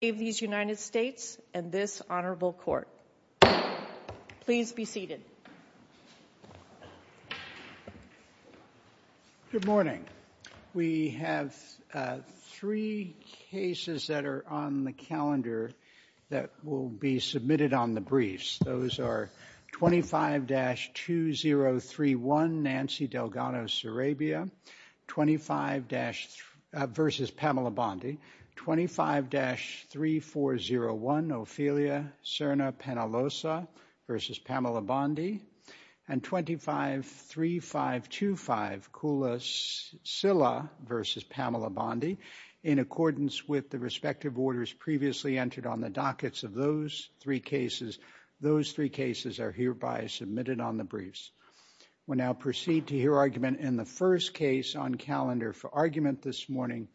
United States and this Honorable Court. Please be seated. Good morning. We have three cases that are on the calendar that will be submitted on the briefs. Those are 25-2031 Nancy Delgado-Sarabia v. Pamela Bondi, 25-3401 Ophelia Serna-Panaloza v. Pamela Bondi, and 25-3525 Kula Silla v. Pamela Bondi. In accordance with the respective orders previously entered on the dockets of those three cases, those three cases are hereby submitted on the briefs. We'll now proceed to hear argument in the first case on calendar for argument this morning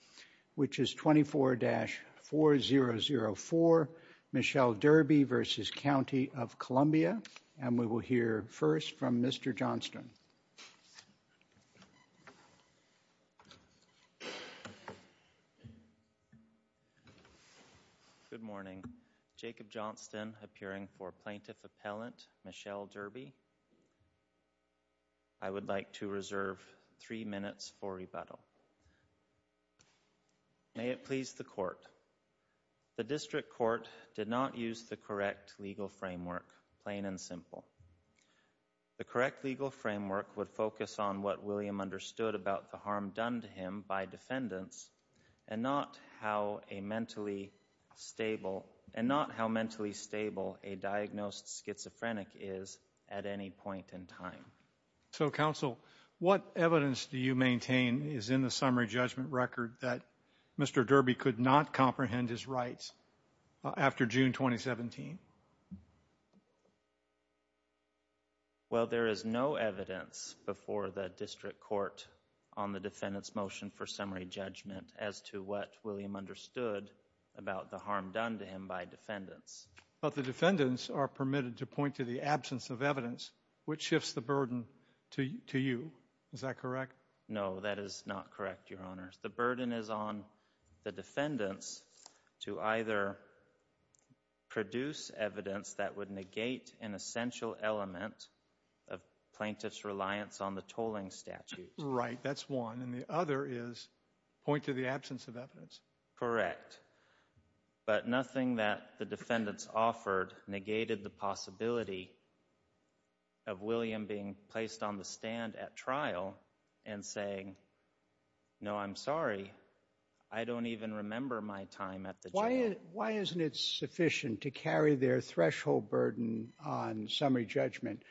which is 24-4004 Michelle Derby v. County of Columbia will hear first from Mr. Johnston. Good morning. Jacob Johnston appearing for plaintiff appellant Michelle Derby. I would like to reserve three minutes for rebuttal. May it please the court. The district court did not use the correct legal framework, plain and simple. The correct legal framework would focus on what William understood about the harm done to him by defendants and not how a mentally stable and not how mentally stable a diagnosed schizophrenic is at any point in time. So counsel, what evidence do you maintain is in the summary judgment record that Mr. Derby could not comprehend his rights after June 2017? Well, there is no evidence before the district court on the defendant's motion for summary judgment as to what William understood about the harm done to him by defendants. But the defendants are permitted to point to the absence of evidence which shifts the burden to you. Is that correct? No, that is not correct, your honors. The burden is on the defendants to either produce evidence that would negate an essential element of plaintiff's reliance on the tolling statute. Right, that's one. And the other is point to the absence of evidence. Correct. But nothing that the defendants offered negated the possibility of William being placed on the stand at trial and saying, no, I'm sorry, I don't even remember my time at the trial. Why isn't it sufficient to carry their threshold burden on summary judgment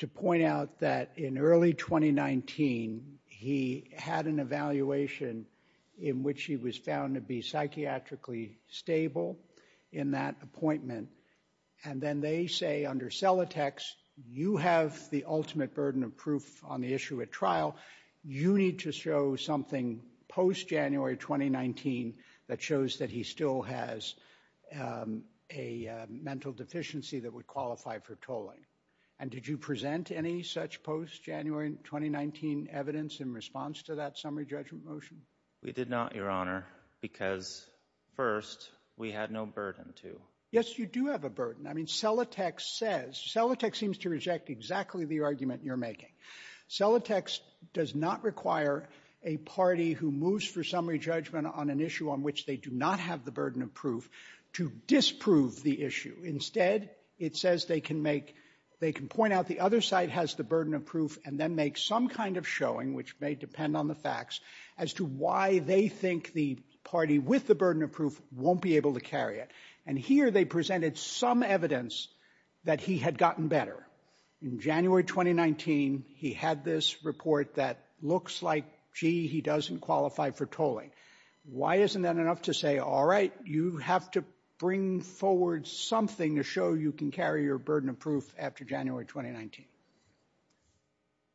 to point out that in early 2019, he had an evaluation in which he was found to be psychiatrically stable in that appointment. And then they say under Celatex, you have the ultimate burden of proof on the issue at trial. You need to show something post January 2019 that shows that he still has a mental deficiency that would qualify for tolling. And did you present any such post January 2019 evidence in response to that summary judgment motion? We did not, your honor, because first, we had no burden to. Yes, you do have a burden. I mean, Celatex says, Celatex seems to reject exactly the argument you're making. Celatex does not require a party who moves for summary judgment on an issue on which they do not have the burden of proof to disprove the issue. Instead, it says they can make, they can point out the other side has the burden of proof and then make some kind of showing, which may depend on the facts, as to why they think the party with the burden of proof won't be able to carry it. And here they presented some evidence that he had gotten better. In January 2019, he had this report that looks like, gee, he doesn't qualify for tolling. Why isn't that enough to say, all right, you have to bring forward something to show you can carry your burden of proof after January 2019?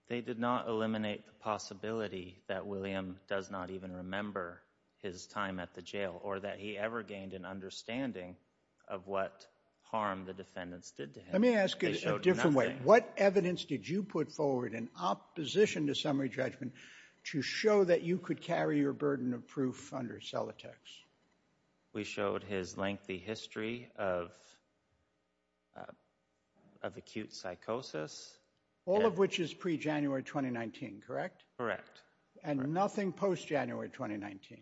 They did not eliminate the possibility that William does not even remember his time at the jail or that he ever gained an understanding of what harm the defendants did to him. Let me ask it a different way. What evidence did you put forward in opposition to summary judgment to show that you could carry your burden of proof under Celatex? We showed his lengthy history of acute psychosis. All of which is pre-January 2019, correct? Correct. And nothing post-January 2019?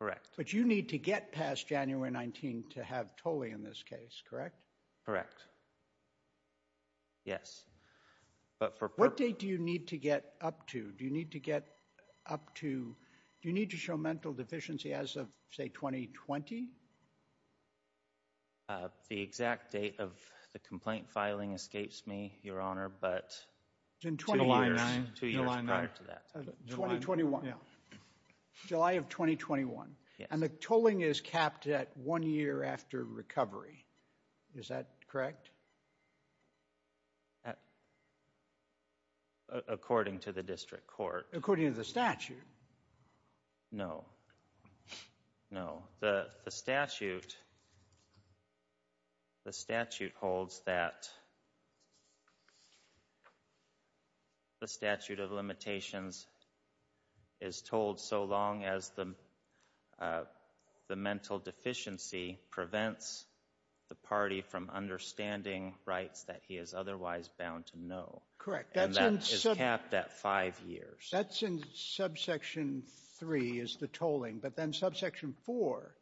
Correct. But you need to get past January 19 to have tolling in this case, correct? Correct. Yes. But for what date do you need to get up to? Do you need to get up to, do you need to show mental deficiency as of, say, 2020? The exact date of the complaint filing escapes me, Your Honor, but two years prior to that. 2021. 2021. Yeah. July of 2021. Yeah. And the tolling is capped at one year after recovery. Is that correct? According to the district court. According to the statute. No. No. The statute, the statute holds that the statute of limitations is told so long as the mental deficiency prevents the party from understanding rights that he is otherwise bound to know. Correct. And that is capped at five years. That's in subsection three, is the tolling. But then subsection four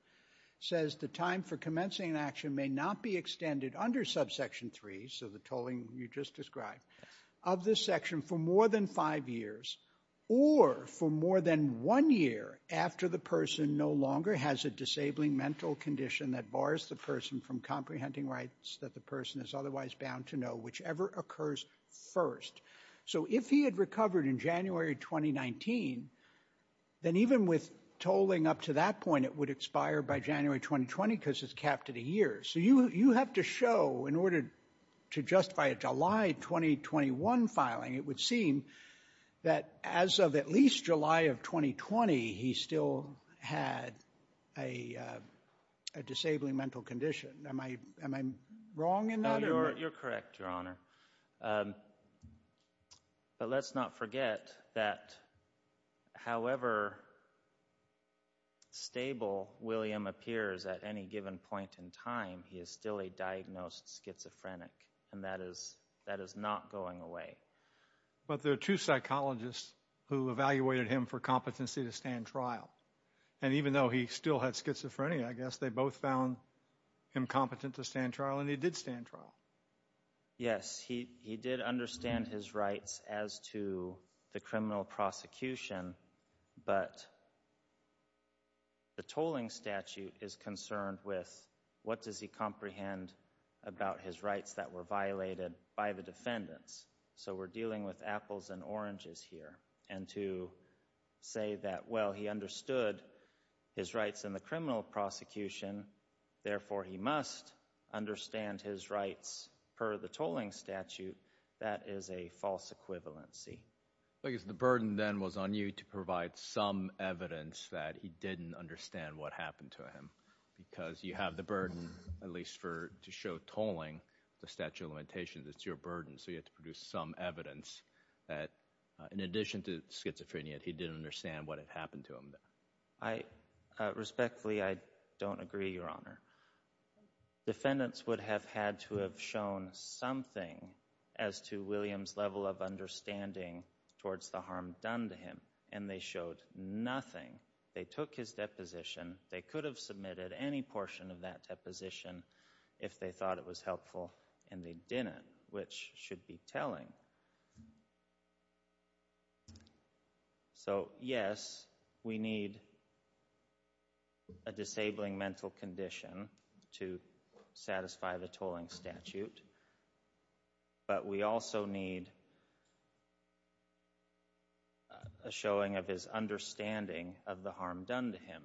says the time for commencing an action may not be extended under subsection three, so the tolling you just described, of this section for more than five years or for more than one year after the person no longer has a disabling mental condition that bars the person from comprehending rights that the person is otherwise bound to know, whichever occurs first. So if he had recovered in January 2019, then even with tolling up to that point, it would expire by January 2020 because it's capped at a year. So you have to show in order to justify a July 2021 filing, it would seem that as of at least July of 2020, he still had a disabling mental condition. Am I wrong in that? You're correct, Your Honor. But let's not forget that however stable William appears at any given point in time, he is still a diagnosed schizophrenic and that is not going away. But there are two psychologists who evaluated him for competency to stand trial. And even though he still had schizophrenia, I guess they both found him competent to stand trial and he did stand trial. Yes, he did understand his rights as to the criminal prosecution, but the tolling statute is concerned with what does he comprehend about his rights that were violated by the defendants. So we're dealing with apples and oranges here. And to say that, well, he understood his rights in the criminal prosecution. Therefore, he must understand his rights per the tolling statute. That is a false equivalency. The burden then was on you to provide some evidence that he didn't understand what happened to him because you have the burden, at least for to show tolling the statute of limitations. It's your burden. So you have to produce some evidence that in addition to schizophrenia, he didn't understand what had happened to him. Respectfully, I don't agree, Your Honor. Defendants would have had to have shown something as to William's level of understanding towards the harm done to him and they showed nothing. They took his deposition. They could have submitted any portion of that deposition if they thought it was helpful and they didn't, which should be telling. So yes, we need a disabling mental condition to satisfy the tolling statute, but we also need a showing of his understanding of the harm done to him.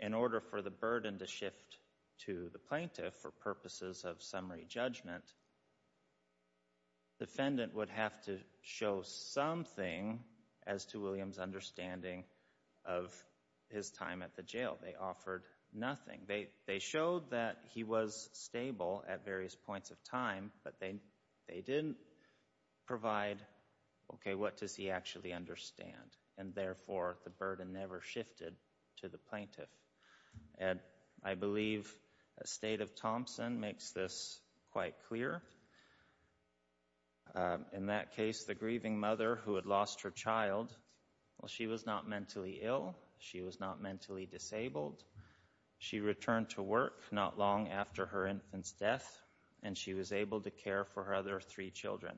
In order for the burden to shift to the plaintiff for purposes of summary judgment, defendant would have to show something as to William's understanding of his time at the jail. They offered nothing. They showed that he was stable at various points of time, but they didn't provide, okay, what does he actually understand and therefore the burden never shifted to the plaintiff. And I believe the State of Thompson makes this quite clear. In that case, the grieving mother who had lost her child, well, she was not mentally ill. She was not mentally disabled. She returned to work not long after her infant's death and she was able to care for her other three children,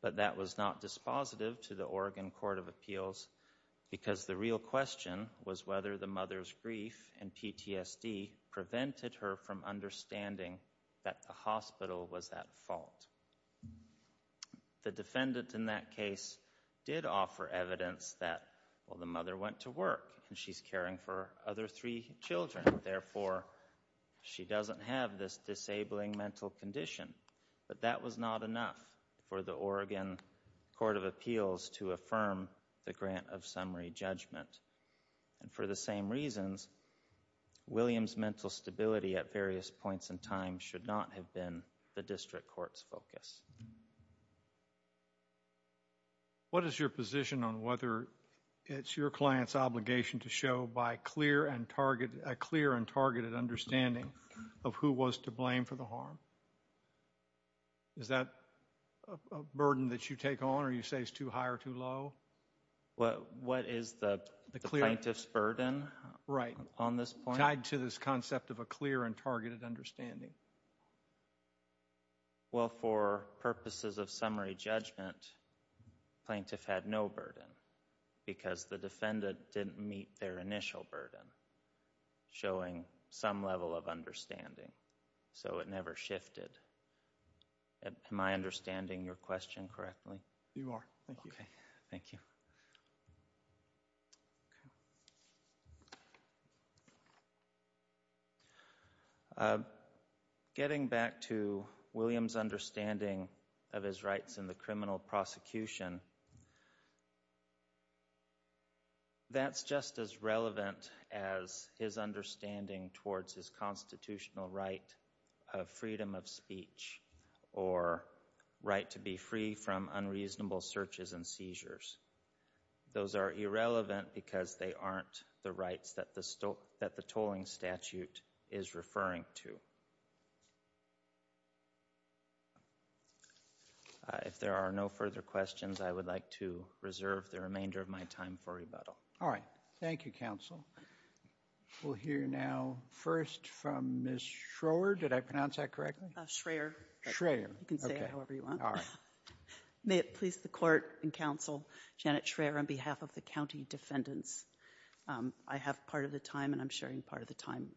but that was not dispositive to the Oregon Court of Appeals because the real question was whether the mother's grief and PTSD prevented her from understanding that the hospital was at fault. The defendant in that case did offer evidence that, well, the mother went to work and she's caring for her other three children. Therefore, she doesn't have this disabling mental condition, but that was not enough for the Oregon Court of Appeals to affirm the grant of summary judgment. And for the same reasons, William's mental stability at various points in time should not have been the district court's focus. What is your position on whether it's your client's obligation to show by a clear and targeted understanding of who was to blame for the harm? Is that a burden that you take on or you say is too high or too low? What is the plaintiff's burden on this point? Right. Tied to this concept of a clear and targeted understanding. Well, for purposes of summary judgment, the plaintiff had no burden because the defendant didn't meet their initial burden, showing some level of understanding, so it never shifted. Am I understanding your question correctly? You are. Thank you. Okay. Thank you. Getting back to William's understanding of his rights in the criminal prosecution, that's just as relevant as his understanding towards his constitutional right of freedom of speech or right to be free from unreasonable searches and seizures. Those are irrelevant because they aren't the rights that the tolling statute is referring to. If there are no further questions, I would like to reserve the remainder of my time for rebuttal. All right. Thank you, counsel. We'll hear now first from Ms. Schroer. Did I pronounce that correctly? Schroer. Schroer. You can say it however you want. All right. May it please the court and counsel, Janet Schroer, on behalf of the county defendants, I have part of the time and I'm sharing part of the time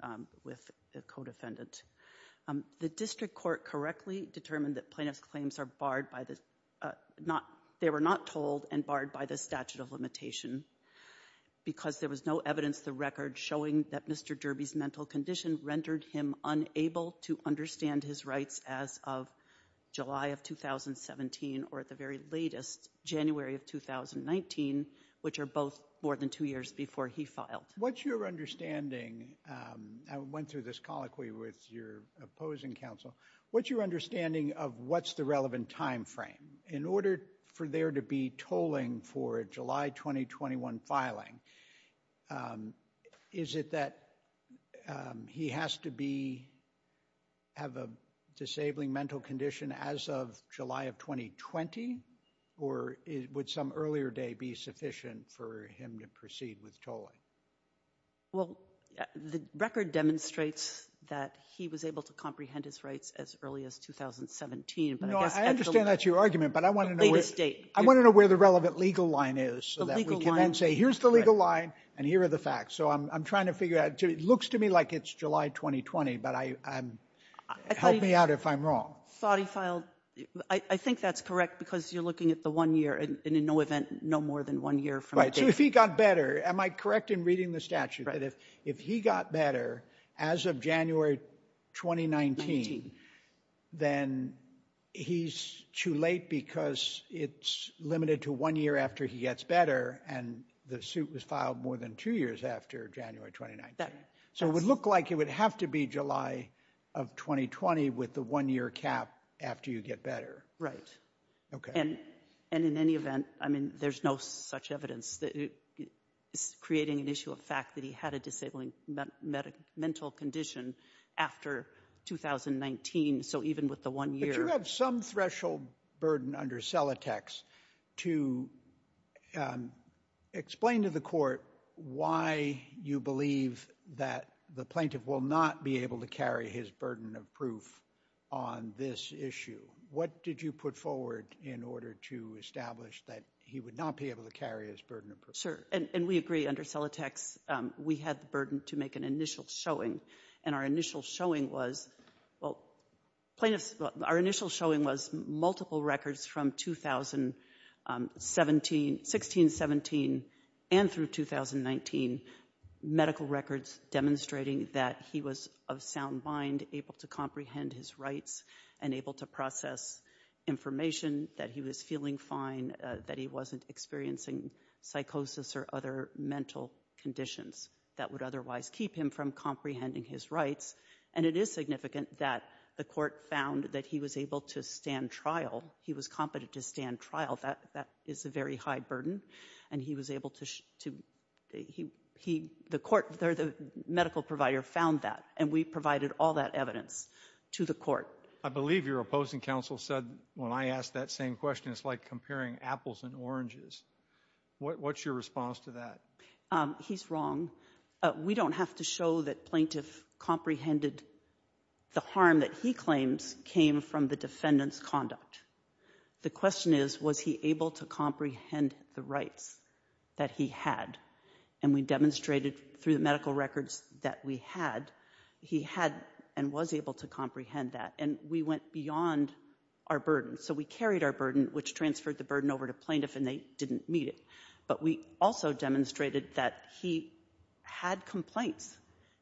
with the co-defendant. The district court correctly determined that plaintiff's claims are barred by the—they were not told and barred by the statute of limitation because there was no evidence the record showing that Mr. Derby's mental condition rendered him unable to understand his rights as of July of 2017 or at the very latest, January of 2019, which are both more than two years before he filed. What's your understanding—I went through this colloquy with your opposing counsel—what's your understanding of what's the relevant timeframe in order for there to be tolling for a July 2021 filing? Is it that he has to be—have a disabling mental condition as of July of 2020 or would some earlier day be sufficient for him to proceed with tolling? Well, the record demonstrates that he was able to comprehend his rights as early as 2017, but I guess— No, I understand that's your argument, but I want to know where— Latest date. I want to know where the relevant legal line is so that we can then say here's the legal line and here are the facts. So I'm trying to figure out—it looks to me like it's July 2020, but help me out if I'm wrong. I thought he filed—I think that's correct because you're looking at the one year and in no event no more than one year from the date. So if he got better, am I correct in reading the statute that if he got better as of January 2019, then he's too late because it's limited to one year after he gets better and the suit was filed more than two years after January 2019. So it would look like it would have to be July of 2020 with the one year cap after you get better. Right. And in any event, I mean, there's no such evidence that it's creating an issue of fact that he had a disabling mental condition after 2019. So even with the one year— But you have some threshold burden under Celatex to explain to the court why you believe that the plaintiff will not be able to carry his burden of proof on this issue. What did you put forward in order to establish that he would not be able to carry his burden of proof? Sure. And we agree under Celatex, we had the burden to make an initial showing. And our initial showing was—well, plaintiffs—our initial showing was multiple records from 2016, 17, and through 2019. Medical records demonstrating that he was of sound mind, able to comprehend his rights, and able to process information that he was feeling fine, that he wasn't experiencing psychosis or other mental conditions that would otherwise keep him from comprehending his rights. And it is significant that the court found that he was able to stand trial. He was competent to stand trial. That is a very high burden. And he was able to—the court or the medical provider found that. And we provided all that evidence to the court. I believe your opposing counsel said, when I asked that same question, it's like comparing apples and oranges. What's your response to that? He's wrong. We don't have to show that plaintiff comprehended the harm that he claims came from the defendant's conduct. The question is, was he able to comprehend the rights that he had? And we demonstrated through the medical records that we had, he had and was able to comprehend that. And we went beyond our burden. So we carried our burden, which transferred the burden over to plaintiff, and they didn't meet it. But we also demonstrated that he had complaints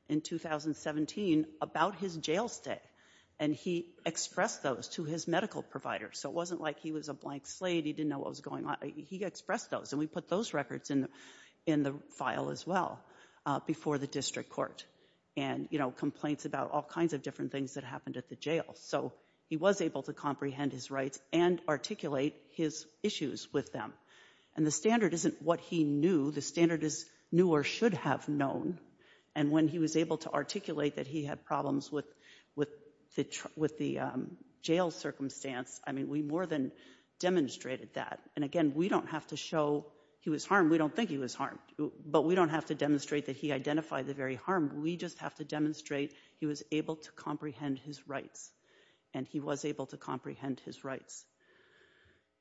in 2017 about his jail stay. And he expressed those to his medical provider. So it wasn't like he was a blank slate. He didn't know what was going on. He expressed those. And we put those records in the file as well before the district court. And, you know, complaints about all kinds of different things that happened at the jail. So he was able to comprehend his rights and articulate his issues with them. And the standard isn't what he knew. The standard is knew or should have known. And when he was able to articulate that he had problems with the jail circumstance, I mean, we more than demonstrated that. And again, we don't have to show he was harmed. We don't think he was harmed. But we don't have to demonstrate that he identified the very harm. We just have to demonstrate he was able to comprehend his rights. And he was able to comprehend his rights.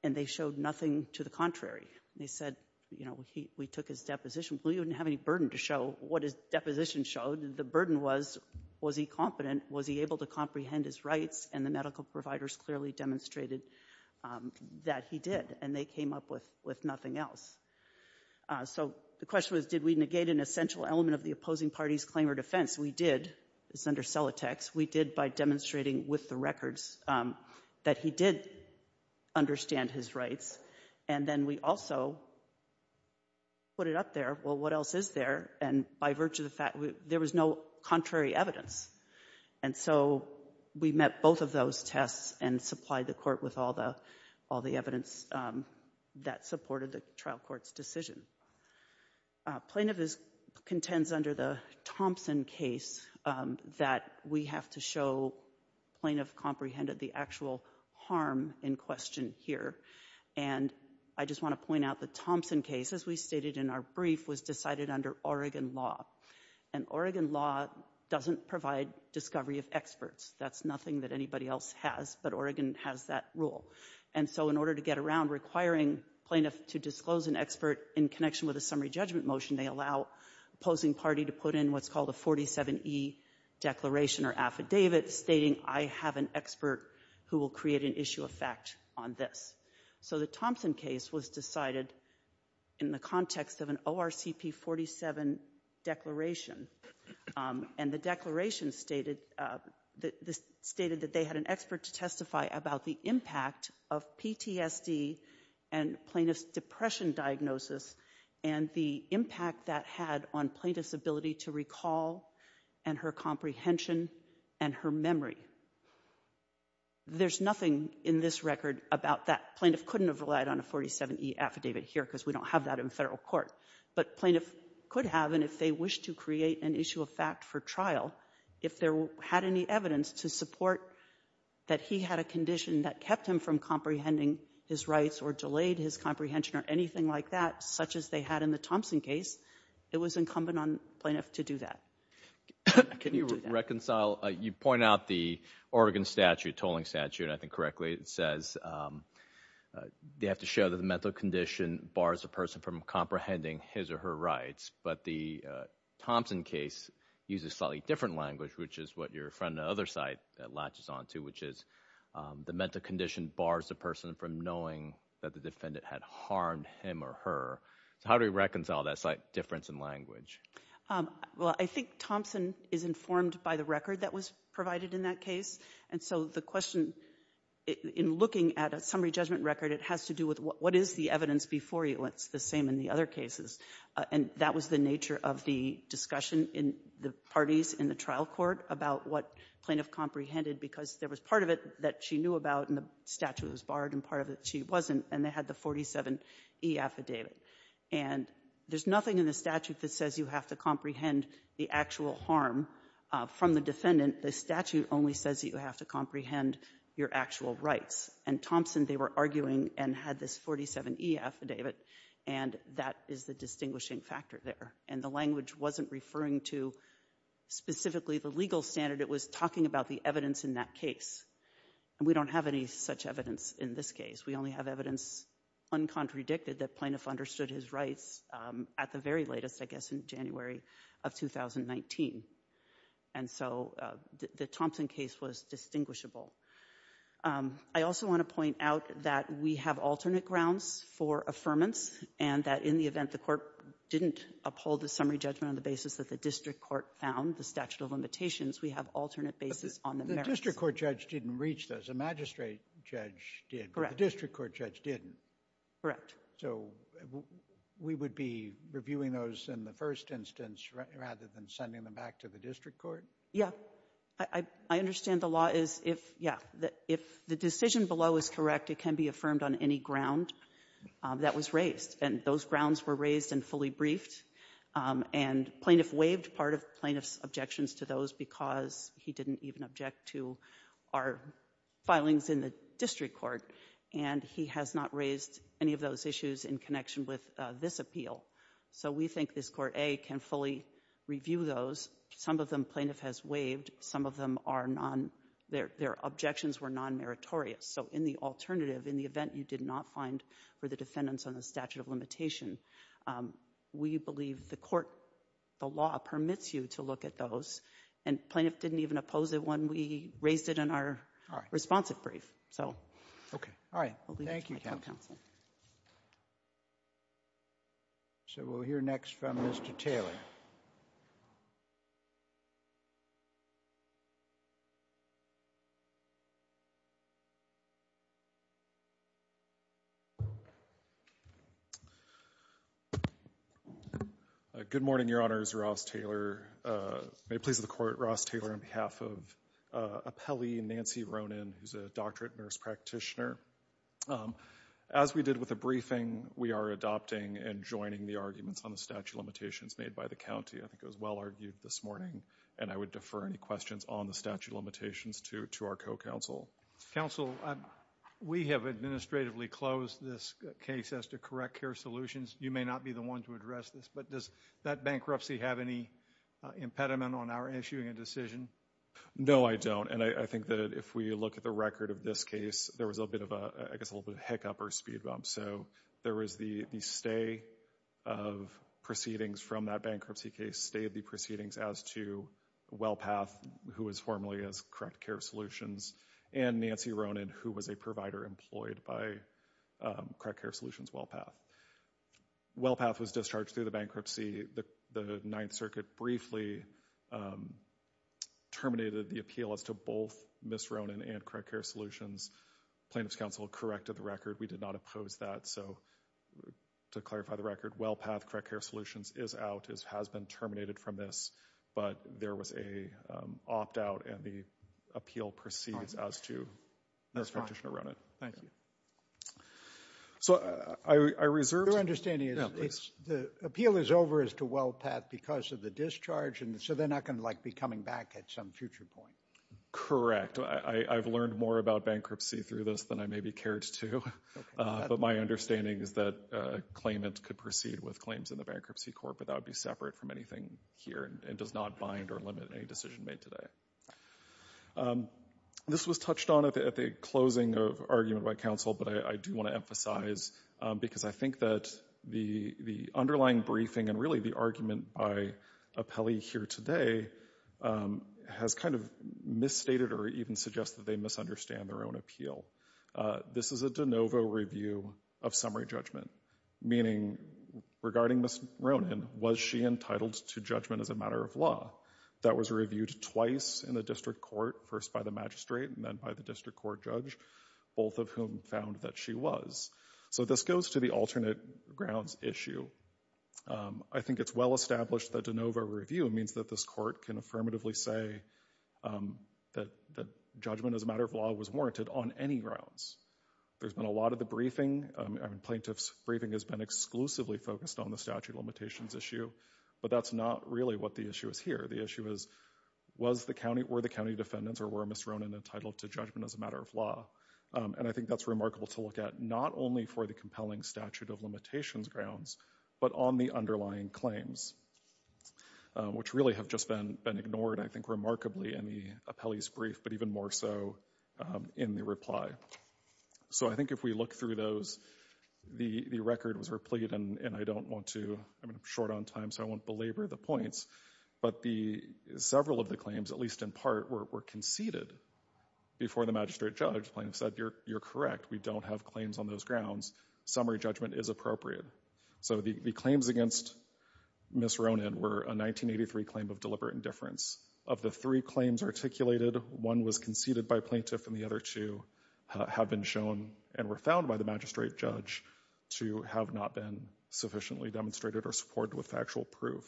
And they showed nothing to the contrary. They said, you know, we took his deposition. We didn't have any burden to show what his deposition showed. The burden was, was he competent? Was he able to comprehend his rights? And the medical providers clearly demonstrated that he did. And they came up with nothing else. So the question was, did we negate an essential element of the opposing party's claim or defense? We did. It's under Celotex. We did by demonstrating with the records that he did understand his rights. And then we also put it up there. Well, what else is there? And by virtue of the fact, there was no contrary evidence. And so we met both of those tests and supplied the court with all the, all the evidence that supported the trial court's decision. Plaintiff contends under the Thompson case that we have to show plaintiff comprehended the actual harm in question here. And I just want to point out the Thompson case, as we stated in our brief, was decided under Oregon law. And Oregon law doesn't provide discovery of experts. That's nothing that anybody else has. But Oregon has that rule. And so in order to get around requiring plaintiff to disclose an expert in connection with a summary judgment motion, they allow opposing party to put in what's called a 47E declaration or affidavit stating I have an expert who will create an issue of fact on this. So the Thompson case was decided in the context of an ORCP 47 declaration. And the declaration stated, stated that they had an expert to testify about the impact of PTSD and plaintiff's depression diagnosis and the impact that had on plaintiff's ability to recall and her comprehension and her memory. There's nothing in this record about that. Plaintiff couldn't have relied on a 47E affidavit here because we don't have that in Federal court. But plaintiff could have, and if they wished to create an issue of fact for trial, if there had any evidence to support that he had a condition that kept him from comprehending his rights or delayed his comprehension or anything like that, such as they had in the Thompson case, it was incumbent on plaintiff to do that. Can you reconcile, you point out the Oregon statute, tolling statute, and I think correctly it says they have to show that the mental condition bars a person from comprehending his or her rights. But the Thompson case uses slightly different language, which is what your friend on the other side latches on to, which is the mental condition bars the person from knowing that the defendant had harmed him or her. So how do we reconcile that slight difference in language? Well, I think Thompson is informed by the record that was provided in that case. And so the question in looking at a summary judgment record, it has to do with what is the evidence before you? It's the same in the other cases. And that was the nature of the discussion in the parties in the trial court about what plaintiff comprehended because there was part of it that she knew about and the statute was barred and part of it she wasn't, and they had the 47E affidavit. And there's nothing in the statute that says you have to comprehend the actual harm from the defendant. The statute only says that you have to comprehend your actual rights. And Thompson, they were arguing and had this 47E affidavit, and that is the distinguishing factor there. And the language wasn't referring to specifically the legal standard. It was talking about the evidence in that case. And we don't have any such evidence in this case. We only have evidence, uncontradicted, that plaintiff understood his rights at the very latest, I guess, in January of 2019. And so the Thompson case was distinguishable. I also want to point out that we have alternate grounds for affirmance and that in the event the Court didn't uphold the summary judgment on the basis that the district court found the statute of limitations, we have alternate basis on the merits. The district court judge didn't reach those. The magistrate judge did. Correct. But the district court judge didn't. Correct. So we would be reviewing those in the first instance rather than sending them back to the district court? Yeah. I understand the law is if, yeah, if the decision below is correct, it can be affirmed on any ground that was raised. And those grounds were raised and fully briefed. And plaintiff waived part of plaintiff's objections to those because he didn't even object to our filings in the district court. And he has not raised any of those issues in connection with this appeal. So we think this Court, A, can fully review those. Some of them plaintiff has waived. Some of them are non ‑‑ their objections were nonmeritorious. So in the alternative, in the event you did not find for the defendants on the statute of limitation, we believe the Court, the law, permits you to look at those. And plaintiff didn't even oppose it when we raised it in our responsive brief. Okay. All right. Thank you, counsel. So we'll hear next from Mr. Taylor. Good morning, Your Honors. Ross Taylor. May it please the Court, Ross Taylor on behalf of appellee Nancy Ronan, who's a doctorate nurse practitioner. As we did with the briefing, we are adopting and joining the arguments on the statute of limitations made by the county. I think it was well argued this morning. And I would defer any questions on the statute of limitations to our co‑counsel. Counsel, we have administratively closed this case as to correct care solutions. You may not be the one to address this. But does that bankruptcy have any impediment on our issuing a decision? No, I don't. And I think that if we look at the record of this case, there was a bit of a, I guess, a little bit of hiccup or speed bump. So there was the stay of proceedings from that bankruptcy case, stay of the proceedings as to WellPath, who was formerly as Correct Care Solutions, and Nancy Ronan, who was a provider employed by Correct Care Solutions WellPath. WellPath was discharged through the bankruptcy. The Ninth Circuit briefly terminated the appeal as to both Ms. Ronan and Correct Care Solutions. Plaintiff's counsel corrected the record. We did not oppose that. So to clarify the record, WellPath Correct Care Solutions is out, has been terminated from this. But there was an opt‑out and the appeal proceeds as to nurse practitioner Ronan. Thank you. So I reserved ‑‑ Your understanding is the appeal is over as to WellPath because of the discharge, and so they're not going to, like, be coming back at some future point. Correct. I've learned more about bankruptcy through this than I maybe cared to. But my understanding is that a claimant could proceed with claims in the Bankruptcy Court, but that would be separate from anything here and does not bind or limit any decision made today. This was touched on at the closing of argument by counsel, but I do want to emphasize, because I think that the underlying briefing and really the argument by appellee here today has kind of misstated or even suggested they misunderstand their own appeal. This is a de novo review of summary judgment, meaning regarding Ms. Ronan, was she entitled to judgment as a matter of law? That was reviewed twice in the district court, first by the magistrate and then by the district court judge, both of whom found that she was. So this goes to the alternate grounds issue. I think it's well established that de novo review means that this court can affirmatively say that judgment as a matter of law was warranted on any grounds. There's been a lot of the briefing, plaintiff's briefing has been exclusively focused on the statute of limitations issue, but that's not really what the issue is here. The issue is, was the county, were the county defendants or were Ms. Ronan entitled to judgment as a matter of law? And I think that's remarkable to look at, not only for the compelling statute of limitations grounds, but on the underlying claims, which really have just been ignored, I think, remarkably in the appellee's brief, but even more so in the reply. So I think if we look through those, the record was replete and I don't want to, I'm short on time so I won't belabor the points, but several of the claims, at least in part, were conceded before the magistrate judge. Plaintiff said, you're correct, we don't have claims on those grounds. Summary judgment is appropriate. So the claims against Ms. Ronan were a 1983 claim of deliberate indifference. Of the three claims articulated, one was conceded by plaintiff and the other two have been shown and were found by the magistrate judge to have not been sufficiently demonstrated or supported with factual proof.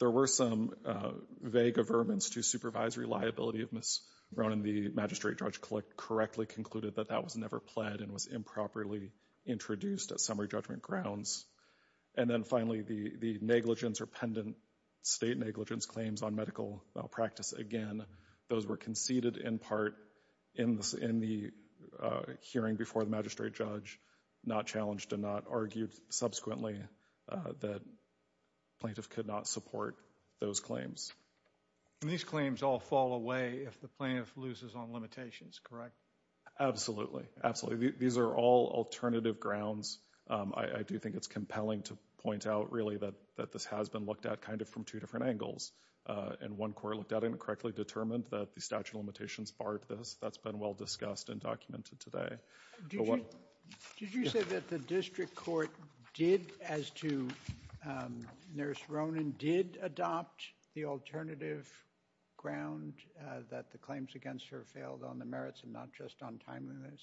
There were some vague averments to supervisory liability of Ms. Ronan. The magistrate judge correctly concluded that that was never pled and was improperly introduced as summary judgment grounds. And then finally, the negligence or pendant state negligence claims on medical malpractice, again, those were conceded in part in the hearing before the magistrate judge, not challenged and not argued subsequently that plaintiff could not support those claims. And these claims all fall away if the plaintiff loses on limitations, correct? Absolutely. Absolutely. These are all alternative grounds. I do think it's compelling to point out really that this has been looked at kind of from two different angles. And one court looked at it and correctly determined that the statute of limitations barred this. That's been well discussed and documented today. Did you say that the district court did, as to Nurse Ronan, did adopt the alternative ground that the claims against her failed on the merits and not just on timeliness?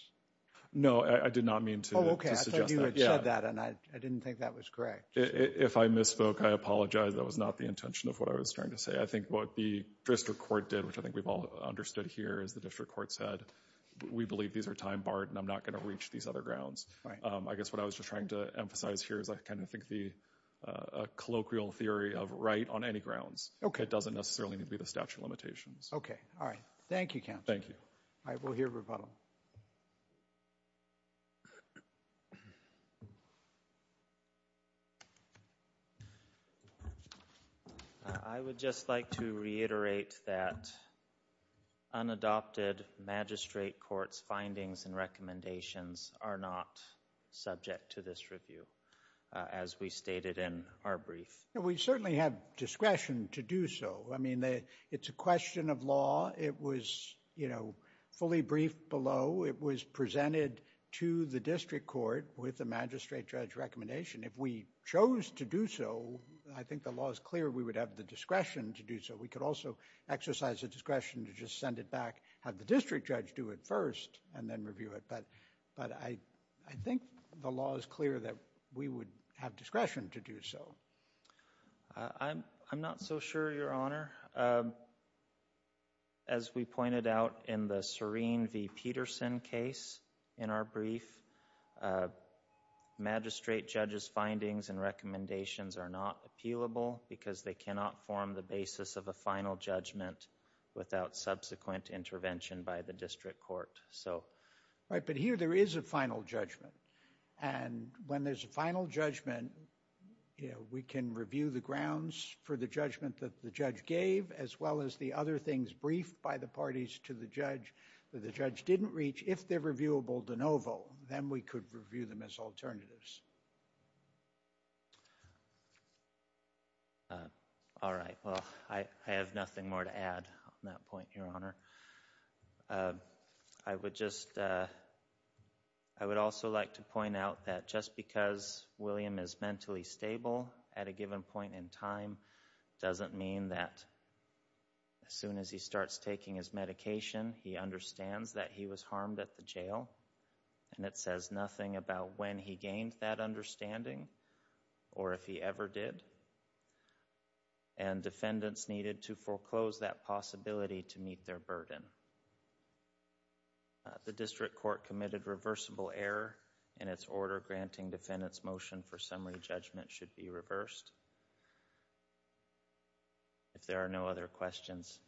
No, I did not mean to suggest that. Oh, okay. I thought you had said that and I didn't think that was correct. If I misspoke, I apologize. That was not the intention of what I was trying to say. I think what the district court did, which I think we've all understood here as the district court said, we believe these are time barred and I'm not going to reach these other grounds. I guess what I was just trying to emphasize here is I kind of think the colloquial theory of right on any grounds doesn't necessarily need to be the statute of limitations. Okay. All right. Thank you, counsel. Thank you. All right. We'll hear rebuttal. I would just like to reiterate that unadopted magistrate court's findings and recommendations are not subject to this review, as we stated in our brief. We certainly have discretion to do so. I mean, it's a question of law. It was fully briefed presented to the district court with a magistrate judge recommendation. If we chose to do so, I think the law is clear we would have the discretion to do so. We could also exercise the discretion to just send it back, have the district judge do it first and then review it. But I think the law is clear that we would have discretion to do so. I'm not so sure, Your Honor. As we pointed out in the Serene v. Peterson case in our brief, magistrate judge's findings and recommendations are not appealable because they cannot form the basis of a final judgment without subsequent intervention by the district court. All right. But here there is a final judgment. And when there's a final judgment, we can review the grounds for the judgment that the judge gave, as well as the other things briefed by the parties to the judge that the judge didn't reach. If they're reviewable de novo, then we could review them as alternatives. All right. Well, I have nothing more to add on that point, Your Honor. I would also like to point out that just because William is mentally stable at a given point in time doesn't mean that as soon as he starts taking his medication, he understands that he was harmed at the jail. And it says nothing about when he gained that understanding or if he ever did. And defendants needed to foreclose that possibility to meet their burden. The district court committed reversible error in its order granting defendants motion for summary judgment that should be reversed. If there are no other questions.